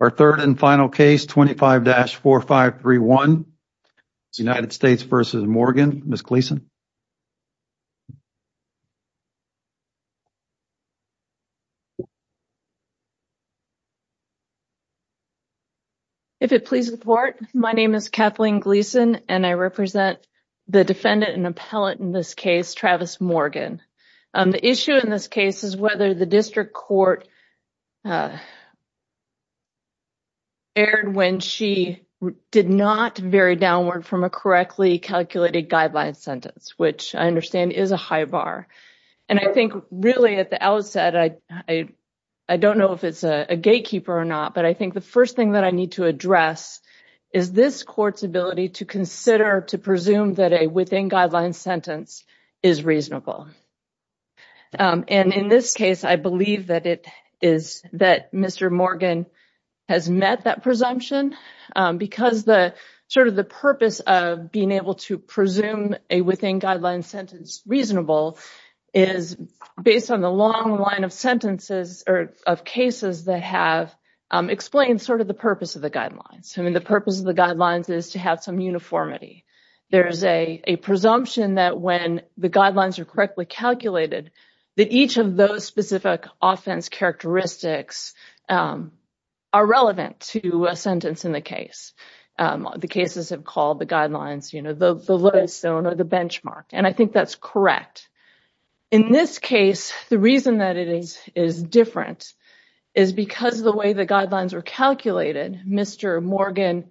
Our third and final case, 25-4531, United States v. Morgan, Ms. Gleason. If it please the court, my name is Kathleen Gleason and I represent the defendant and appellate in this case, Travis Morgan. The issue in this case is whether the district court erred when she did not vary downward from a correctly calculated guideline sentence, which I understand is a high bar. And I think really at the outset, I don't know if it's a gatekeeper or not, but I think the first thing that I need to address is this court's ability to consider, to presume that a within guideline sentence is reasonable. And in this case, I believe that it is, that Mr. Morgan has met that presumption because the sort of the purpose of being able to presume a within guideline sentence reasonable is based on the long line of sentences or of cases that have explained sort of the purpose of the guidelines. I mean, the purpose of the guidelines is to have some uniformity. There is a presumption that when the guidelines are correctly calculated, that each of those specific offense characteristics are relevant to a sentence in the case. The cases have called the guidelines, you know, the lowest zone or the benchmark. And I think that's correct. In this case, the reason that it is different is because the way the guidelines were calculated, Mr. Morgan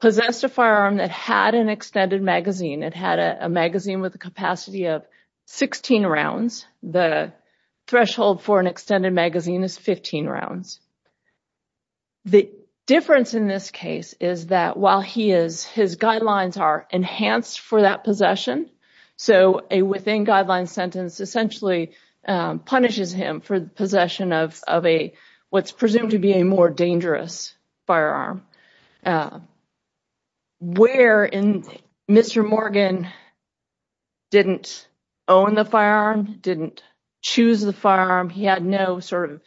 possessed a firearm that had an extended magazine. It had a magazine with a capacity of 16 rounds. The threshold for an extended magazine is 15 rounds. The difference in this case is that while he is, his guidelines are enhanced for that possession. So a within guideline sentence essentially punishes him for the possession of a what's presumed to be a more dangerous firearm. Where in Mr. Morgan didn't own the firearm, didn't choose the firearm, he had no sort of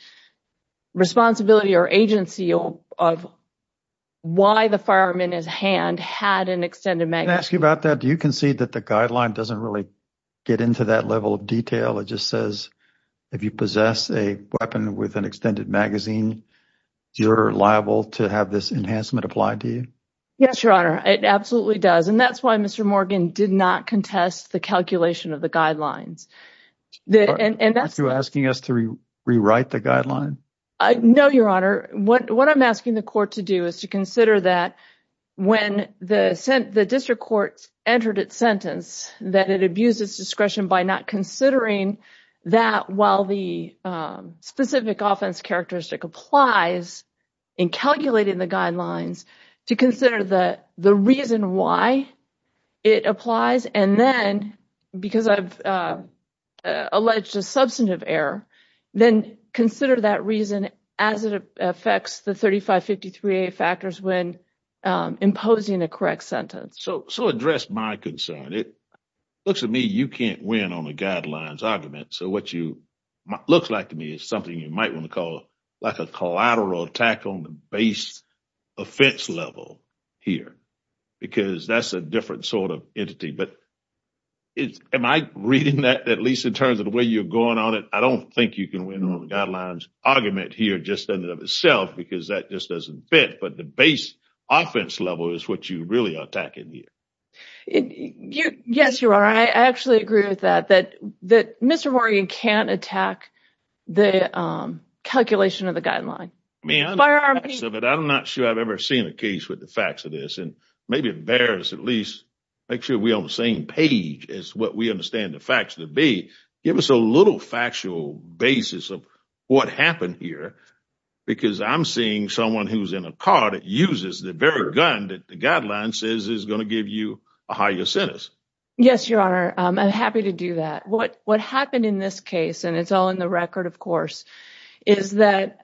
responsibility or agency of why the firearm in his hand had an extended magazine. I can ask you about that. Do you concede that the guideline doesn't really get into that level of detail? It just says if you possess a weapon with an extended magazine, you're liable to have this enhancement applied to you? Yes, your honor. It absolutely does. And that's why Mr. Morgan did not contest the calculation of the guidelines. And that's asking us to rewrite the guideline. No, your honor. What I'm asking the court to do is to consider that when the district court entered its sentence, that it abuses discretion by not considering that while the specific offense characteristic applies in calculating the guidelines to consider the reason why it applies. And then because I've alleged a substantive error, then consider that reason as it affects the 3553A factors when imposing a correct sentence. So address my concern. It looks to me you can't win on the guidelines argument. So what you look like to me is something you might want to call like a collateral attack on the base offense level here because that's a different sort of entity. But am I reading that at least in terms of the way you're going on it? I don't think you can win on the guidelines argument here just in and of itself because that just doesn't fit. But the base offense level is what you really are attacking here. Yes, you are. I actually agree with that, that that Mr. Morgan can't attack the calculation of the guideline. But I'm not sure I've ever seen a case with the facts of this and maybe it bears at least make sure we on the same page as what we understand the facts to be. Give us a little factual basis of what happened here, because I'm seeing someone who's in a car that uses the very gun that the guideline says is going to give you a higher sentence. Yes, your honor. I'm happy to do that. What what happened in this case and it's all in the record, of course, is that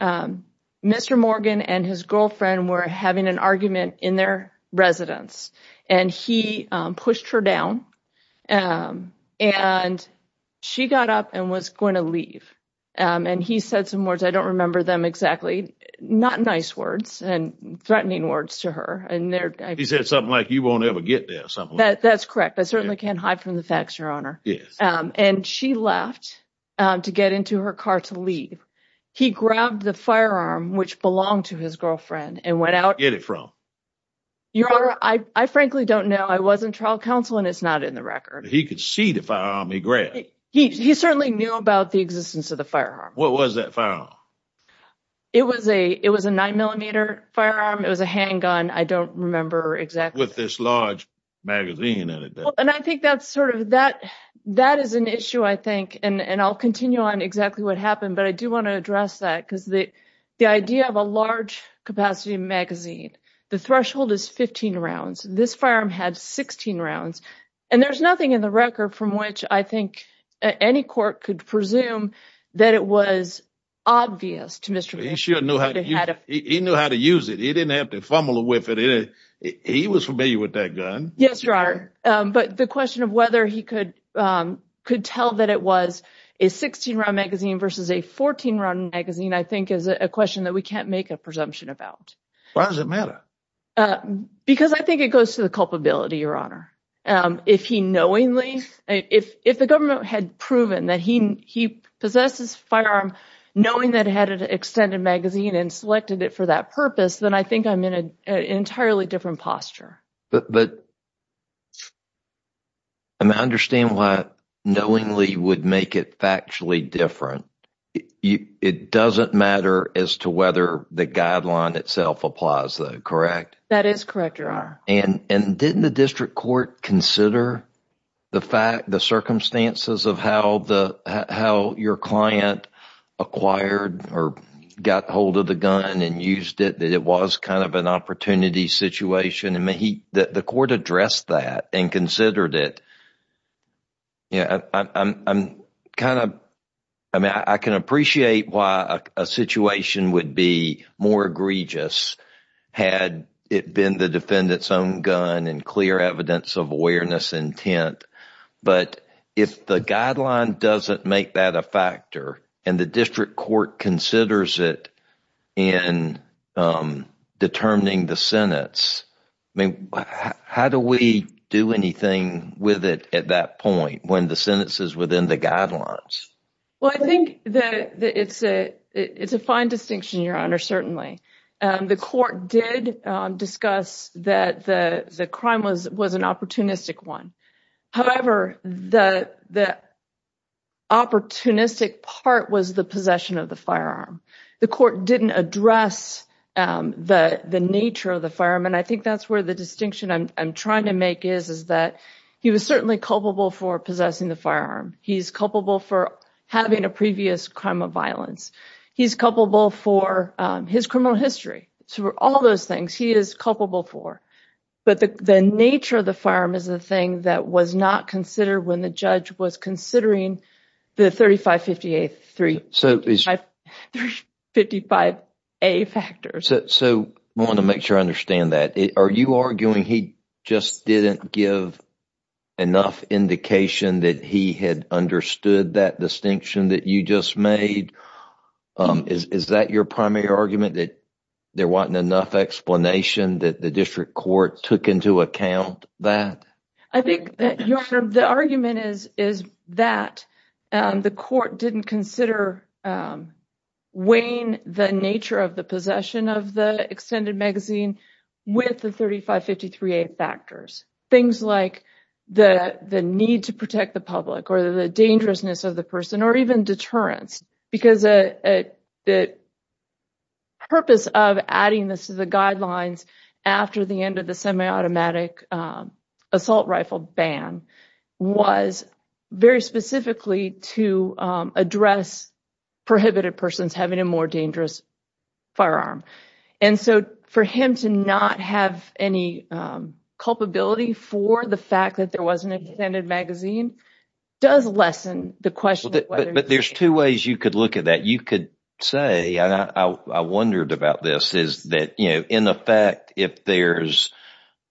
Mr. Morgan and his girlfriend were having an argument in their residence and he pushed her down and she got up and was going to leave. And he said some words. I don't remember them exactly. Not nice words and threatening words to her. And he said something like you won't ever get there. That's correct. I certainly can't hide from the facts, your honor. Yes. And she left to get into her car to leave. He grabbed the firearm, which belonged to his girlfriend and went out. Get it from your honor. I frankly don't know. I wasn't trial counsel and it's not in the record. He could see the firearm he grabbed. He certainly knew about the existence of the firearm. It was a it was a nine millimeter firearm. It was a handgun. I don't remember exactly with this large magazine. And I think that's sort of that. That is an issue, I think. And I'll continue on exactly what happened. But I do want to address that because the the idea of a large capacity magazine, the threshold is 15 rounds. This firearm had 16 rounds and there's nothing in the record from which I think any court could presume that it was obvious to Mr. He sure knew how he knew how to use it. He didn't have to fumble with it. He was familiar with that gun. Yes, your honor. But the question of whether he could could tell that it was a 16 round magazine versus a 14 round magazine, I think, is a question that we can't make a presumption about. Why does it matter? Because I think it goes to the culpability, your honor. If he knowingly if if the government had proven that he he possesses firearm, knowing that had an extended magazine and selected it for that purpose, then I think I'm in an entirely different posture. But. And I understand why knowingly would make it factually different. It doesn't matter as to whether the guideline itself applies, correct? That is correct, your honor. And and didn't the district court consider the fact the circumstances of how the how your client acquired or got hold of the gun and used it? That it was kind of an opportunity situation. And the court addressed that and considered it. I'm kind of I mean, I can appreciate why a situation would be more egregious had it been the defendant's own gun and clear evidence of awareness intent. But if the guideline doesn't make that a factor and the district court considers it in determining the sentence. I mean, how do we do anything with it at that point when the sentence is within the guidelines? Well, I think that it's a it's a fine distinction, your honor. Certainly, the court did discuss that the crime was was an opportunistic one. However, the the opportunistic part was the possession of the firearm. The court didn't address the nature of the firearm. And I think that's where the distinction I'm trying to make is, is that he was certainly culpable for possessing the firearm. He's culpable for having a previous crime of violence. He's culpable for his criminal history. So all those things he is culpable for. But the nature of the firearm is the thing that was not considered when the judge was considering the thirty five fifty eight three. So it's like fifty five a factor. So I want to make sure I understand that. Are you arguing he just didn't give enough indication that he had understood that distinction that you just made? Is that your primary argument that there wasn't enough explanation that the district court took into account that? I think that the argument is, is that the court didn't consider weighing the nature of the possession of the extended magazine with the thirty five fifty three factors. Things like the the need to protect the public or the dangerousness of the person or even deterrence. Because the purpose of adding this to the guidelines after the end of the semiautomatic assault rifle ban was very specifically to address prohibited persons having a more dangerous firearm. And so for him to not have any culpability for the fact that there was an extended magazine does lessen the question. But there's two ways you could look at that. You could say I wondered about this. Is that, you know, in effect, if there's,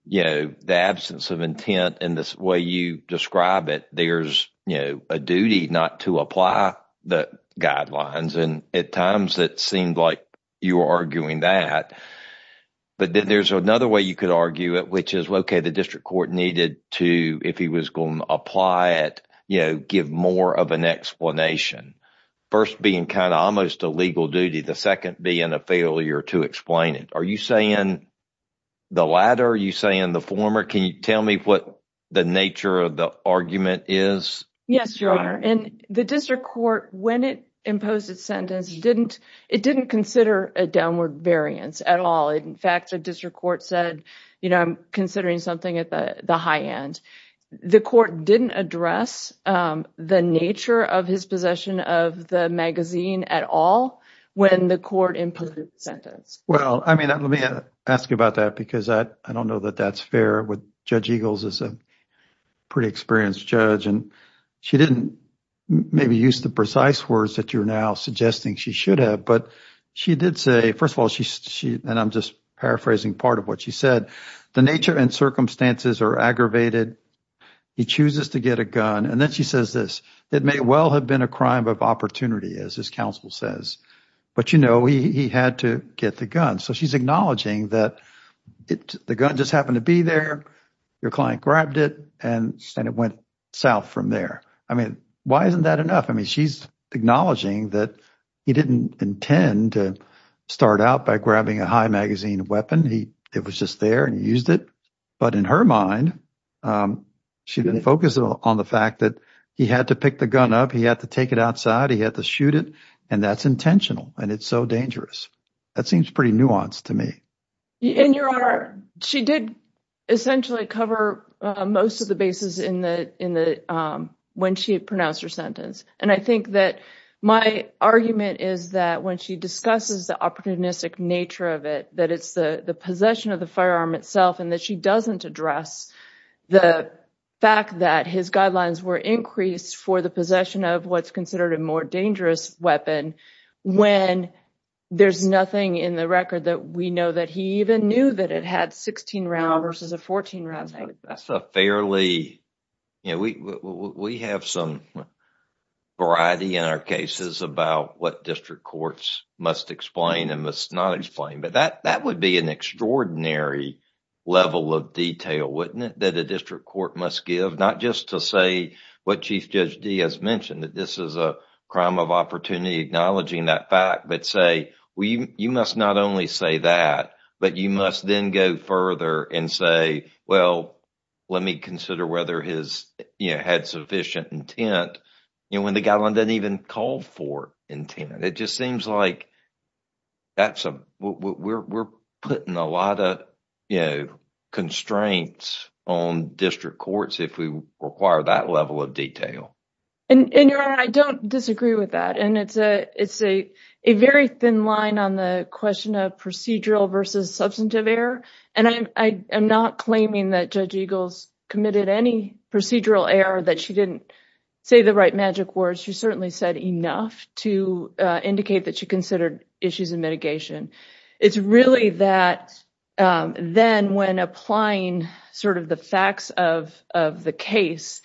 you know, the absence of intent in this way, you describe it. There's a duty not to apply the guidelines. And at times that seemed like you were arguing that. But there's another way you could argue it, which is, OK, the district court needed to, if he was going to apply it, you know, give more of an explanation. First being kind of almost a legal duty. The second being a failure to explain it. Are you saying the latter? Are you saying the former? Can you tell me what the nature of the argument is? Yes, your honor. And the district court, when it imposed its sentence, didn't it didn't consider a downward variance at all. In fact, a district court said, you know, I'm considering something at the high end. The court didn't address the nature of his possession of the magazine at all. Well, I mean, let me ask you about that, because I don't know that that's fair with Judge Eagles is a pretty experienced judge. And she didn't maybe use the precise words that you're now suggesting she should have. But she did say, first of all, she and I'm just paraphrasing part of what she said. The nature and circumstances are aggravated. He chooses to get a gun. And then she says this. It may well have been a crime of opportunity, as his counsel says. But, you know, he had to get the gun. So she's acknowledging that the gun just happened to be there. Your client grabbed it and it went south from there. I mean, why isn't that enough? I mean, she's acknowledging that he didn't intend to start out by grabbing a high magazine weapon. It was just there and used it. But in her mind, she didn't focus on the fact that he had to pick the gun up. He had to take it outside. He had to shoot it. And that's intentional. And it's so dangerous. That seems pretty nuanced to me. In your honor, she did essentially cover most of the bases in the in the when she pronounced her sentence. And I think that my argument is that when she discusses the opportunistic nature of it, that it's the possession of the firearm itself and that she doesn't address the fact that his guidelines were increased for the possession of what's considered a more dangerous weapon when there's nothing in the record that we know that he even knew that it had 16 rounds versus a 14 rounds. That's a fairly, you know, we have some variety in our cases about what district courts must explain and must not explain. But that that would be an extraordinary level of detail, wouldn't it? That a district court must give not just to say what Chief Judge Diaz mentioned, that this is a crime of opportunity, acknowledging that fact, but say, well, you must not only say that, but you must then go further and say, well, let me consider whether his head sufficient intent. You know, when the guy doesn't even call for intent, it just seems like. That's what we're putting a lot of, you know, constraints on district courts if we require that level of detail. And I don't disagree with that. And it's a it's a a very thin line on the question of procedural versus substantive error. And I am not claiming that Judge Eagles committed any procedural error, that she didn't say the right magic words. She certainly said enough to indicate that she considered issues in mitigation. It's really that then when applying sort of the facts of of the case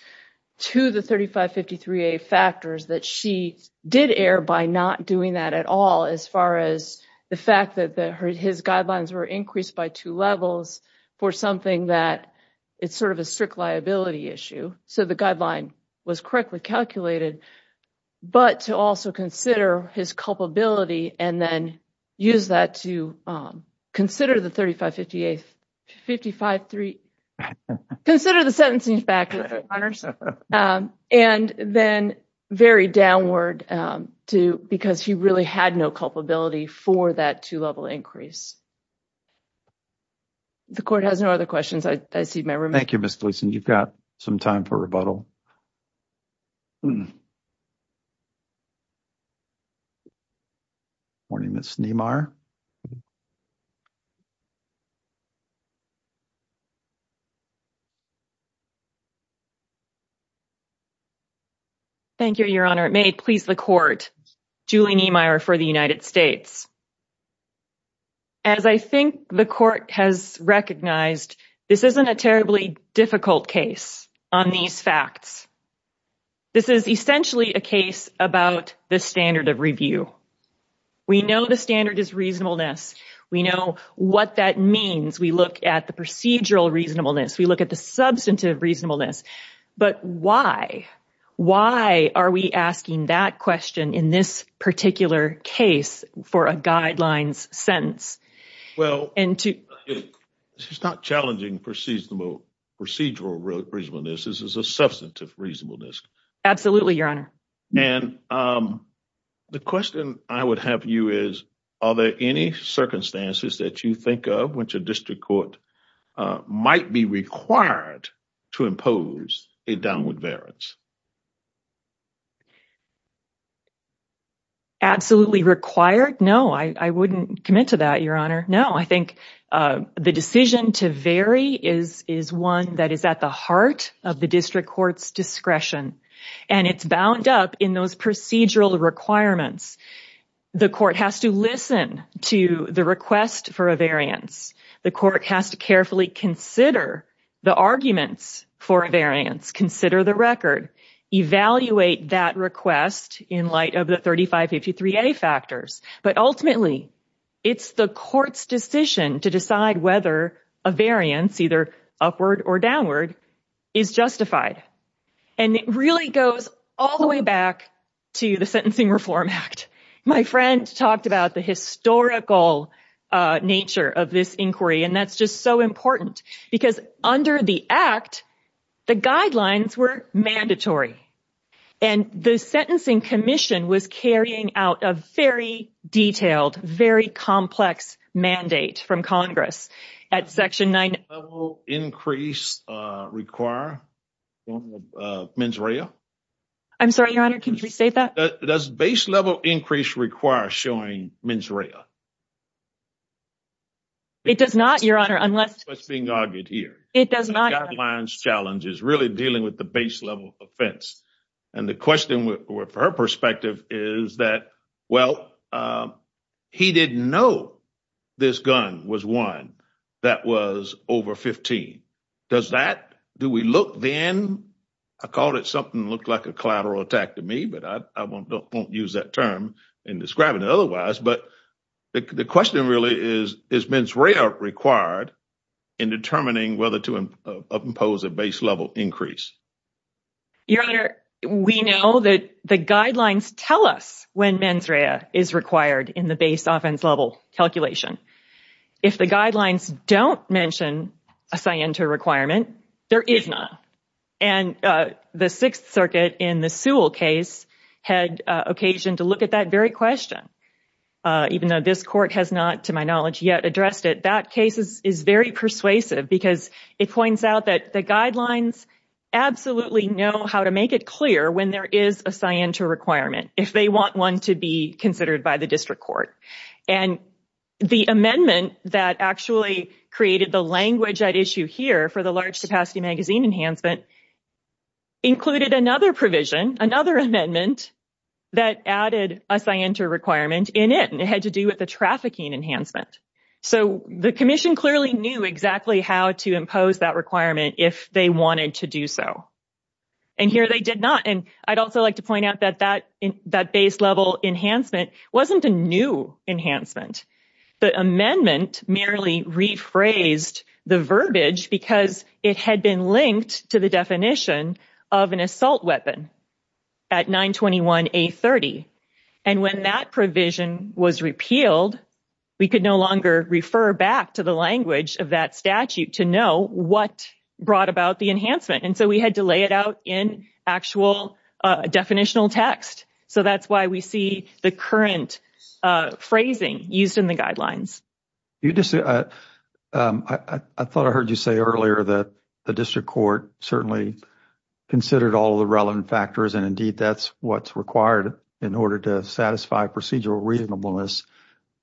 to the 3553A factors that she did err by not doing that at all. As far as the fact that her his guidelines were increased by two levels for something that it's sort of a strict liability issue. So the guideline was correctly calculated. But to also consider his culpability and then use that to consider the thirty five fifty eight fifty five three. Consider the sentencing factors and then very downward to because he really had no culpability for that two level increase. The court has no other questions. I see my room. Thank you, Miss Gleason. You've got some time for rebuttal. Morning, Miss Neymar. Thank you, Your Honor, it may please the court, Julie Neymar for the United States. As I think the court has recognized, this isn't a terribly difficult case on these facts. This is essentially a case about the standard of review. We know the standard is reasonableness. We know what that means. We look at the procedural reasonableness. We look at the substantive reasonableness. But why? Why are we asking that question in this particular case for a guidelines sentence? Well, and it's not challenging procedural reasonableness. This is a substantive reasonableness. Absolutely, Your Honor. And the question I would have you is, are there any circumstances that you think of which a district court might be required to impose a downward variance? Absolutely required. No, I wouldn't commit to that, Your Honor. No, I think the decision to vary is is one that is at the heart of the district court's discretion. And it's bound up in those procedural requirements. The court has to listen to the request for a variance. The court has to carefully consider the arguments for a variance, consider the record, evaluate that request in light of the 3553A factors. But ultimately, it's the court's decision to decide whether a variance, either upward or downward, is justified. And it really goes all the way back to the Sentencing Reform Act. My friend talked about the historical nature of this inquiry. And that's just so important because under the act, the guidelines were mandatory. And the Sentencing Commission was carrying out a very detailed, very complex mandate from Congress at Section 9. Does base level increase require showing mens rea? I'm sorry, Your Honor, can you say that? Does base level increase require showing mens rea? It does not, Your Honor, unless... That's what's being argued here. It does not, Your Honor. really dealing with the base level offense. And the question from her perspective is that, well, he didn't know this gun was one that was over 15. Does that, do we look then? I called it something that looked like a collateral attack to me, but I won't use that term in describing it otherwise. But the question really is, is mens rea required in determining whether to impose a base level increase? Your Honor, we know that the guidelines tell us when mens rea is required in the base offense level calculation. If the guidelines don't mention a scienter requirement, there is not. And the Sixth Circuit in the Sewell case had occasion to look at that very question, even though this court has not, to my knowledge, yet addressed it. That case is very persuasive because it points out that the guidelines absolutely know how to make it clear when there is a scienter requirement, if they want one to be considered by the district court. And the amendment that actually created the language at issue here for the large capacity magazine enhancement included another provision, another amendment that added a scienter requirement in it, and it had to do with the trafficking enhancement. So the commission clearly knew exactly how to impose that requirement if they wanted to do so. And here they did not. And I'd also like to point out that that base level enhancement wasn't a new enhancement. The amendment merely rephrased the verbiage because it had been linked to the definition of an assault weapon at 921A30. And when that provision was repealed, we could no longer refer back to the language of that statute to know what brought about the enhancement. And so we had to lay it out in actual definitional text. So that's why we see the current phrasing used in the guidelines. I thought I heard you say earlier that the district court certainly considered all the relevant factors. And indeed, that's what's required in order to satisfy procedural reasonableness.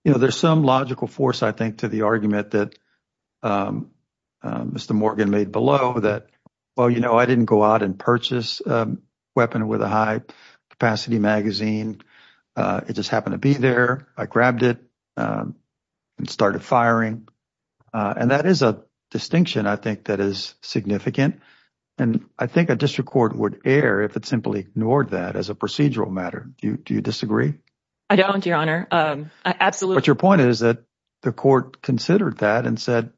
You know, there's some logical force, I think, to the argument that Mr. Morgan made below that. Well, you know, I didn't go out and purchase a weapon with a high capacity magazine. It just happened to be there. I grabbed it and started firing. And that is a distinction, I think, that is significant. And I think a district court would err if it simply ignored that as a procedural matter. Do you disagree? I don't, Your Honor. Absolutely. But your point is that the court considered that and said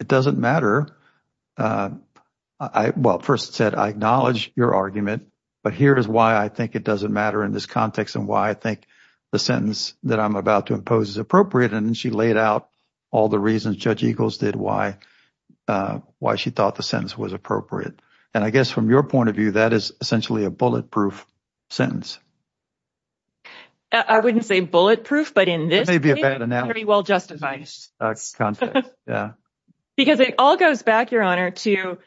it doesn't matter. Well, first said, I acknowledge your argument, but here is why I think it doesn't matter in this context and why I think the sentence that I'm about to impose is appropriate. And she laid out all the reasons Judge Eagles did why, why she thought the sentence was appropriate. And I guess from your point of view, that is essentially a bulletproof sentence. I wouldn't say bulletproof, but in this may be a bad analogy. Well, justified context. Yeah, because it all goes back, Your Honor, to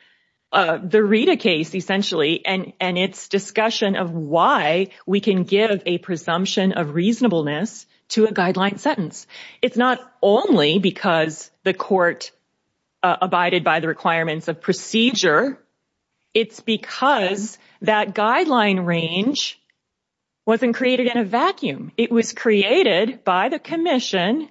the Rita case essentially. And and its discussion of why we can give a presumption of reasonableness to a guideline sentence. It's not only because the court abided by the requirements of procedure. It's because that guideline range wasn't created in a vacuum. It was created by the commission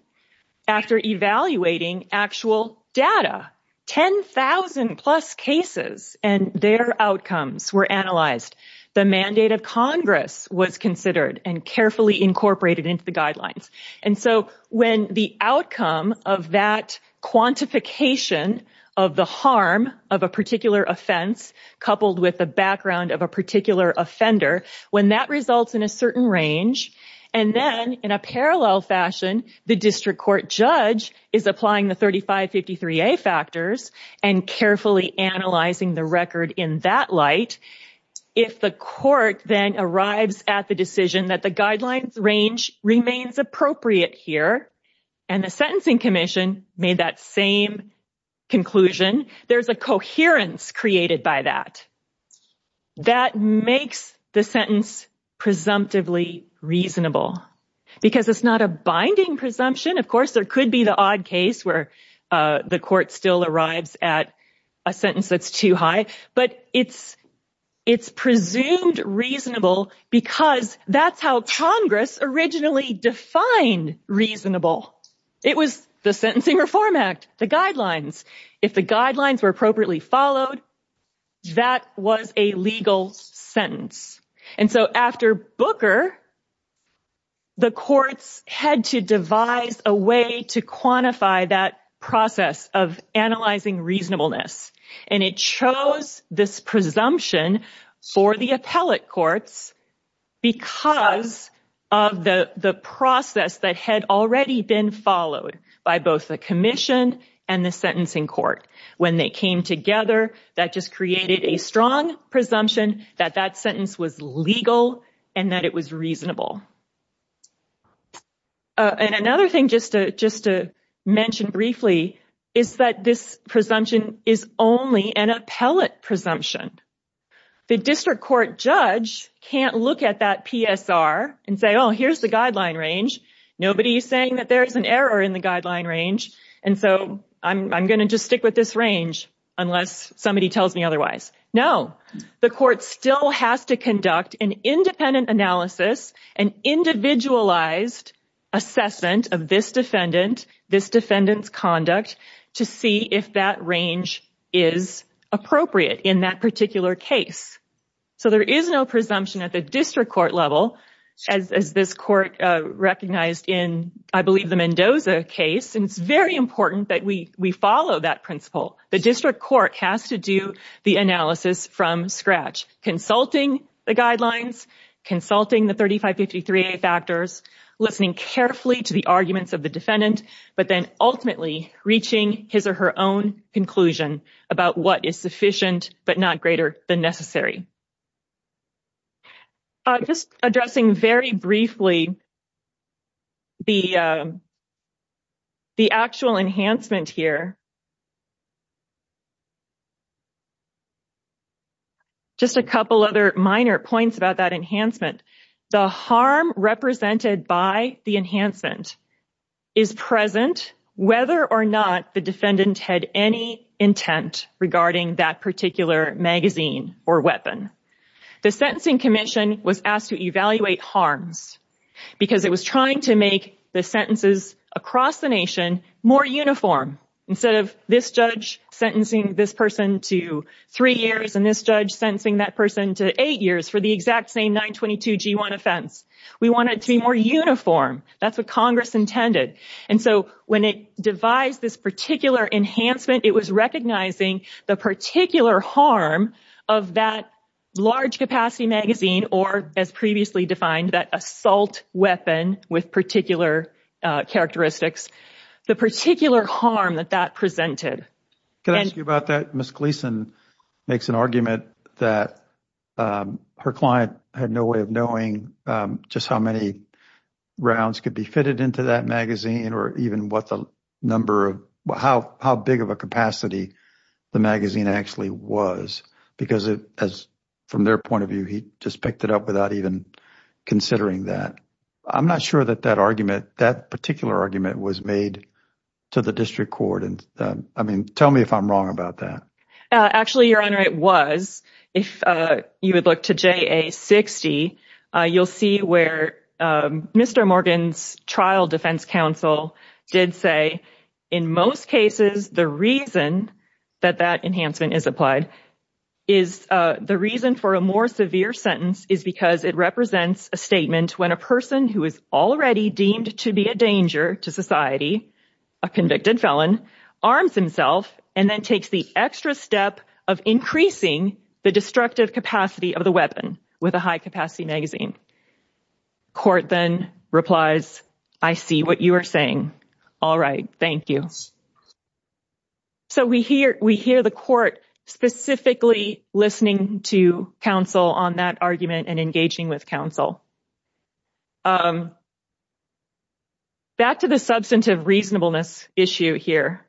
after evaluating actual data. Ten thousand plus cases and their outcomes were analyzed. The mandate of Congress was considered and carefully incorporated into the guidelines. And so when the outcome of that quantification of the harm of a particular offense coupled with the background of a particular offender, when that results in a certain range and then in a parallel fashion, the district court judge is applying the thirty five fifty three factors and carefully analyzing the record in that light. If the court then arrives at the decision that the guidelines range remains appropriate here and the sentencing commission made that same conclusion, there's a coherence created by that. That makes the sentence presumptively reasonable because it's not a binding presumption. Of course, there could be the odd case where the court still arrives at a sentence that's too high. But it's it's presumed reasonable because that's how Congress originally defined reasonable. It was the Sentencing Reform Act, the guidelines. If the guidelines were appropriately followed, that was a legal sentence. And so after Booker. The courts had to devise a way to quantify that process of analyzing reasonableness. And it chose this presumption for the appellate courts because of the process that had already been followed by both the commission and the sentencing court. When they came together, that just created a strong presumption that that sentence was legal and that it was reasonable. And another thing just to just to mention briefly is that this presumption is only an appellate presumption. The district court judge can't look at that PSR and say, oh, here's the guideline range. Nobody is saying that there is an error in the guideline range. And so I'm going to just stick with this range unless somebody tells me otherwise. No, the court still has to conduct an independent analysis and individualized assessment of this defendant. This defendant's conduct to see if that range is appropriate in that particular case. So there is no presumption at the district court level, as this court recognized in, I believe, the Mendoza case. And it's very important that we we follow that principle. The district court has to do the analysis from scratch, consulting the guidelines, consulting the thirty five fifty three factors, listening carefully to the arguments of the defendant, but then ultimately reaching his or her own conclusion about what is sufficient but not greater than necessary. Just addressing very briefly. The. The actual enhancement here. Just a couple other minor points about that enhancement, the harm represented by the enhancement is present, whether or not the defendant had any intent regarding that particular magazine or weapon. The Sentencing Commission was asked to evaluate harms because it was trying to make the sentences across the nation more uniform. Instead of this judge sentencing this person to three years and this judge sentencing that person to eight years for the exact same 922 G1 offense. We want it to be more uniform. That's what Congress intended. And so when it devised this particular enhancement, it was recognizing the particular harm of that large capacity magazine or, as previously defined, that assault weapon with particular characteristics, the particular harm that that presented. Can I ask you about that? Miss Gleason makes an argument that her client had no way of knowing just how many rounds could be fitted into that magazine or even what the number of how big of a capacity the magazine actually was, because as from their point of view, he just picked it up without even considering that. I'm not sure that that argument, that particular argument was made to the district court. And I mean, tell me if I'm wrong about that. Actually, Your Honor, it was. If you would look to J.A. 60, you'll see where Mr. Morgan's trial defense counsel did say in most cases, the reason that that enhancement is applied is the reason for a more severe sentence is because it represents a statement when a person who is already deemed to be a danger to society, a convicted felon, arms himself and then takes the extra step of increasing the destructive capacity of the weapon with a high capacity magazine. Court then replies, I see what you are saying. All right. Thank you. So we hear we hear the court specifically listening to counsel on that argument and engaging with counsel. Back to the substantive reasonableness issue here.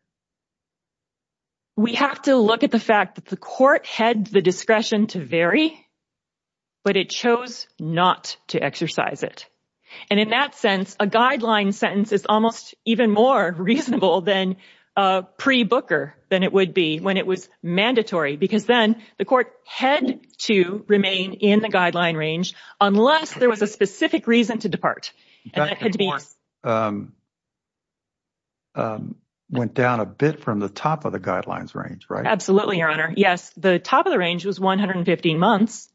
We have to look at the fact that the court had the discretion to vary. But it chose not to exercise it. And in that sense, a guideline sentence is almost even more reasonable than pre Booker than it would be when it was mandatory, because then the court had to remain in the guideline range unless there was a specific reason to depart. And it had to be. Went down a bit from the top of the guidelines range, right? Absolutely, Your Honor. Yes. The top of the range was one hundred and fifteen months.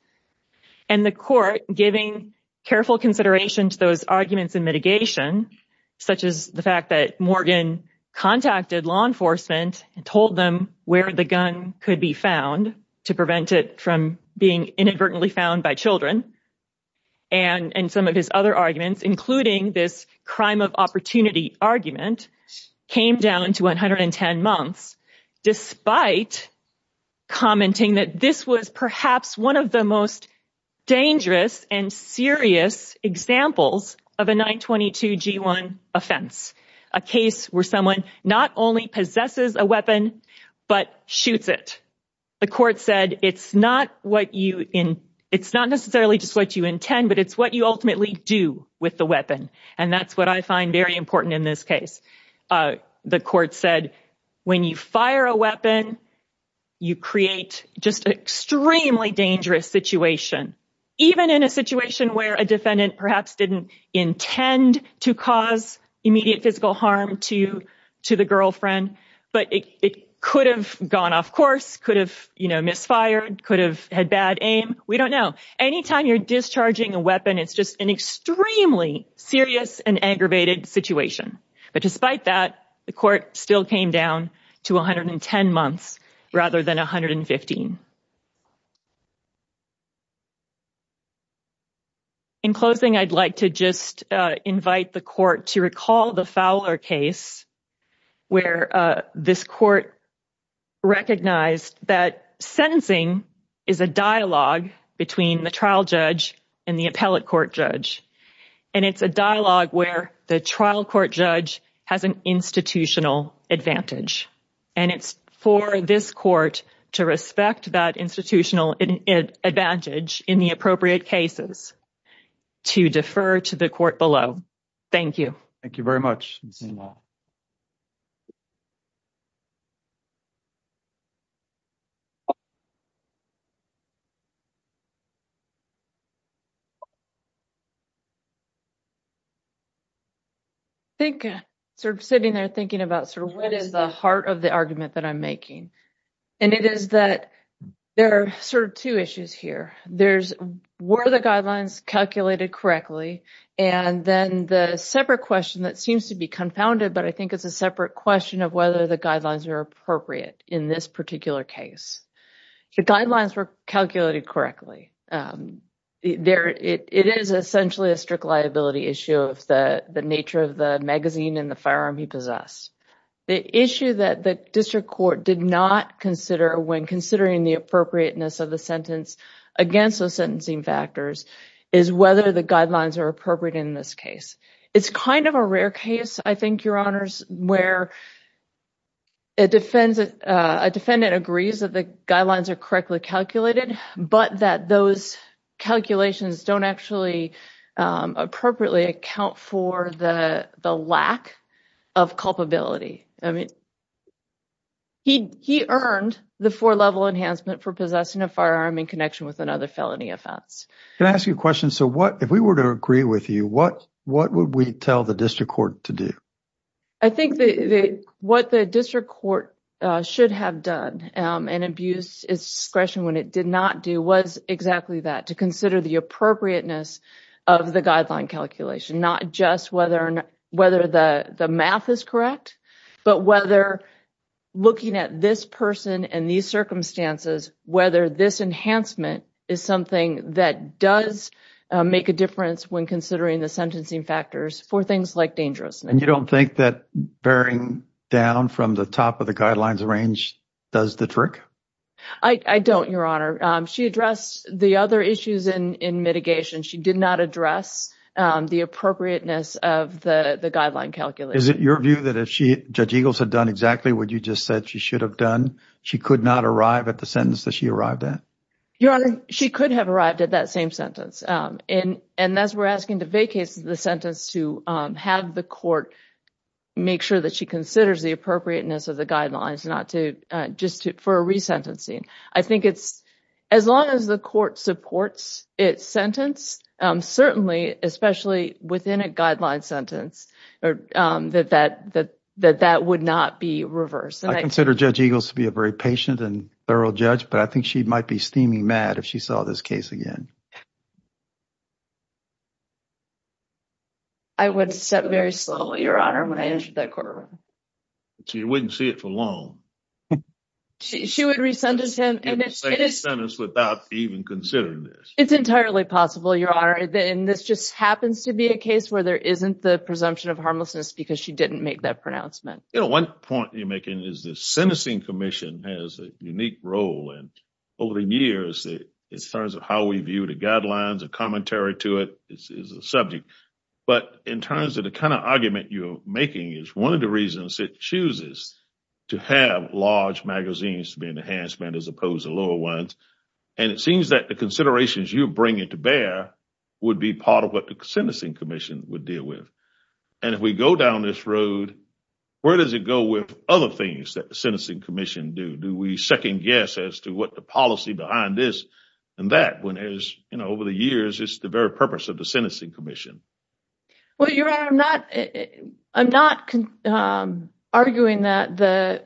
And the court giving careful consideration to those arguments and mitigation, such as the fact that Morgan contacted law enforcement and told them where the gun could be found to prevent it from being inadvertently found by children. And some of his other arguments, including this crime of opportunity argument, came down to one hundred and ten months, despite commenting that this was perhaps one of the most dangerous and serious examples of a 922 G1 offense, a case where someone not only possesses a weapon but shoots it. The court said it's not what you in it's not necessarily just what you intend, but it's what you ultimately do with the weapon. And that's what I find very important in this case. The court said, when you fire a weapon, you create just extremely dangerous situation, even in a situation where a defendant perhaps didn't intend to cause immediate physical harm to to the girlfriend. But it could have gone off course, could have, you know, misfired, could have had bad aim. We don't know. Anytime you're discharging a weapon, it's just an extremely serious and aggravated situation. But despite that, the court still came down to one hundred and ten months rather than one hundred and fifteen. In closing, I'd like to just invite the court to recall the Fowler case where this court recognized that sentencing is a dialogue between the trial judge and the appellate court judge. And it's a dialogue where the trial court judge has an institutional advantage. And it's for this court to respect that institutional advantage in the appropriate cases to defer to the court below. Thank you. Thank you very much. I think sort of sitting there thinking about sort of what is the heart of the argument that I'm making, and it is that there are sort of two issues here. Were the guidelines calculated correctly? And then the separate question that seems to be confounded, but I think it's a separate question of whether the guidelines are appropriate in this particular case. The guidelines were calculated correctly. It is essentially a strict liability issue of the nature of the magazine and the firearm he possessed. The issue that the district court did not consider when considering the appropriateness of the sentence against those sentencing factors is whether the guidelines are appropriate in this case. It's kind of a rare case, I think, Your Honors, where a defendant agrees that the guidelines are correctly calculated, but that those calculations don't actually appropriately account for the lack of culpability. I mean, he earned the four-level enhancement for possessing a firearm in connection with another felony offense. Can I ask you a question? So if we were to agree with you, what would we tell the district court to do? I think what the district court should have done in abuse discretion when it did not do was exactly that, to consider the appropriateness of the guideline calculation, not just whether the math is correct, but whether looking at this person and these circumstances, whether this enhancement is something that does make a difference when considering the sentencing factors for things like dangerousness. And you don't think that bearing down from the top of the guidelines range does the trick? I don't, Your Honor. She addressed the other issues in mitigation. She did not address the appropriateness of the guideline calculation. Is it your view that if Judge Eagles had done exactly what you just said she should have done, she could not arrive at the sentence that she arrived at? Your Honor, she could have arrived at that same sentence. And as we're asking to vacate the sentence to have the court make sure that she considers the appropriateness of the guidelines, not just for a resentencing. As long as the court supports its sentence, certainly, especially within a guideline sentence, that that would not be reversed. I consider Judge Eagles to be a very patient and thorough judge, but I think she might be steaming mad if she saw this case again. I would step very slowly, Your Honor, when I entered that courtroom. She wouldn't see it for long. She would re-sentence him without even considering this. It's entirely possible, Your Honor, and this just happens to be a case where there isn't the presumption of harmlessness because she didn't make that pronouncement. You know, one point you're making is the sentencing commission has a unique role. And over the years, in terms of how we view the guidelines, the commentary to it is a subject. But in terms of the kind of argument you're making, it's one of the reasons it chooses to have large magazines to be an enhancement as opposed to lower ones. And it seems that the considerations you bring into bear would be part of what the sentencing commission would deal with. And if we go down this road, where does it go with other things that the sentencing commission do? Do we second guess as to what the policy behind this and that when, you know, over the years, it's the very purpose of the sentencing commission? Well, Your Honor, I'm not arguing that the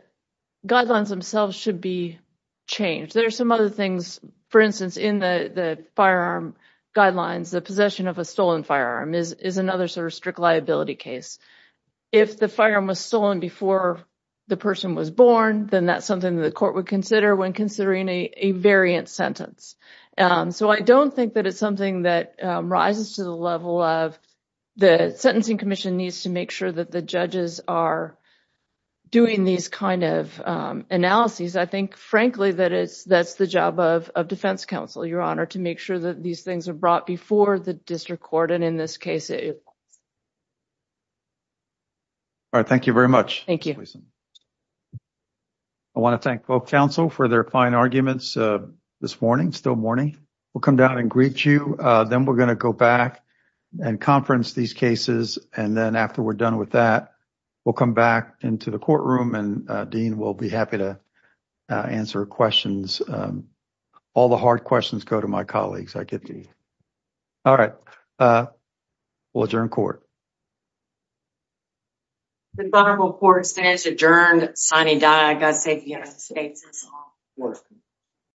guidelines themselves should be changed. There are some other things, for instance, in the firearm guidelines. The possession of a stolen firearm is another sort of strict liability case. If the firearm was stolen before the person was born, then that's something that the court would consider when considering a variant sentence. So I don't think that it's something that rises to the level of the sentencing commission needs to make sure that the judges are doing these kind of analyses. I think, frankly, that it's that's the job of defense counsel, Your Honor, to make sure that these things are brought before the district court. And in this case. All right, thank you very much. Thank you. I want to thank both counsel for their fine arguments this morning, still morning. We'll come down and greet you. Then we're going to go back and conference these cases. And then after we're done with that, we'll come back into the courtroom and Dean will be happy to answer questions. All the hard questions go to my colleagues. All right. We'll adjourn court. The court is adjourned.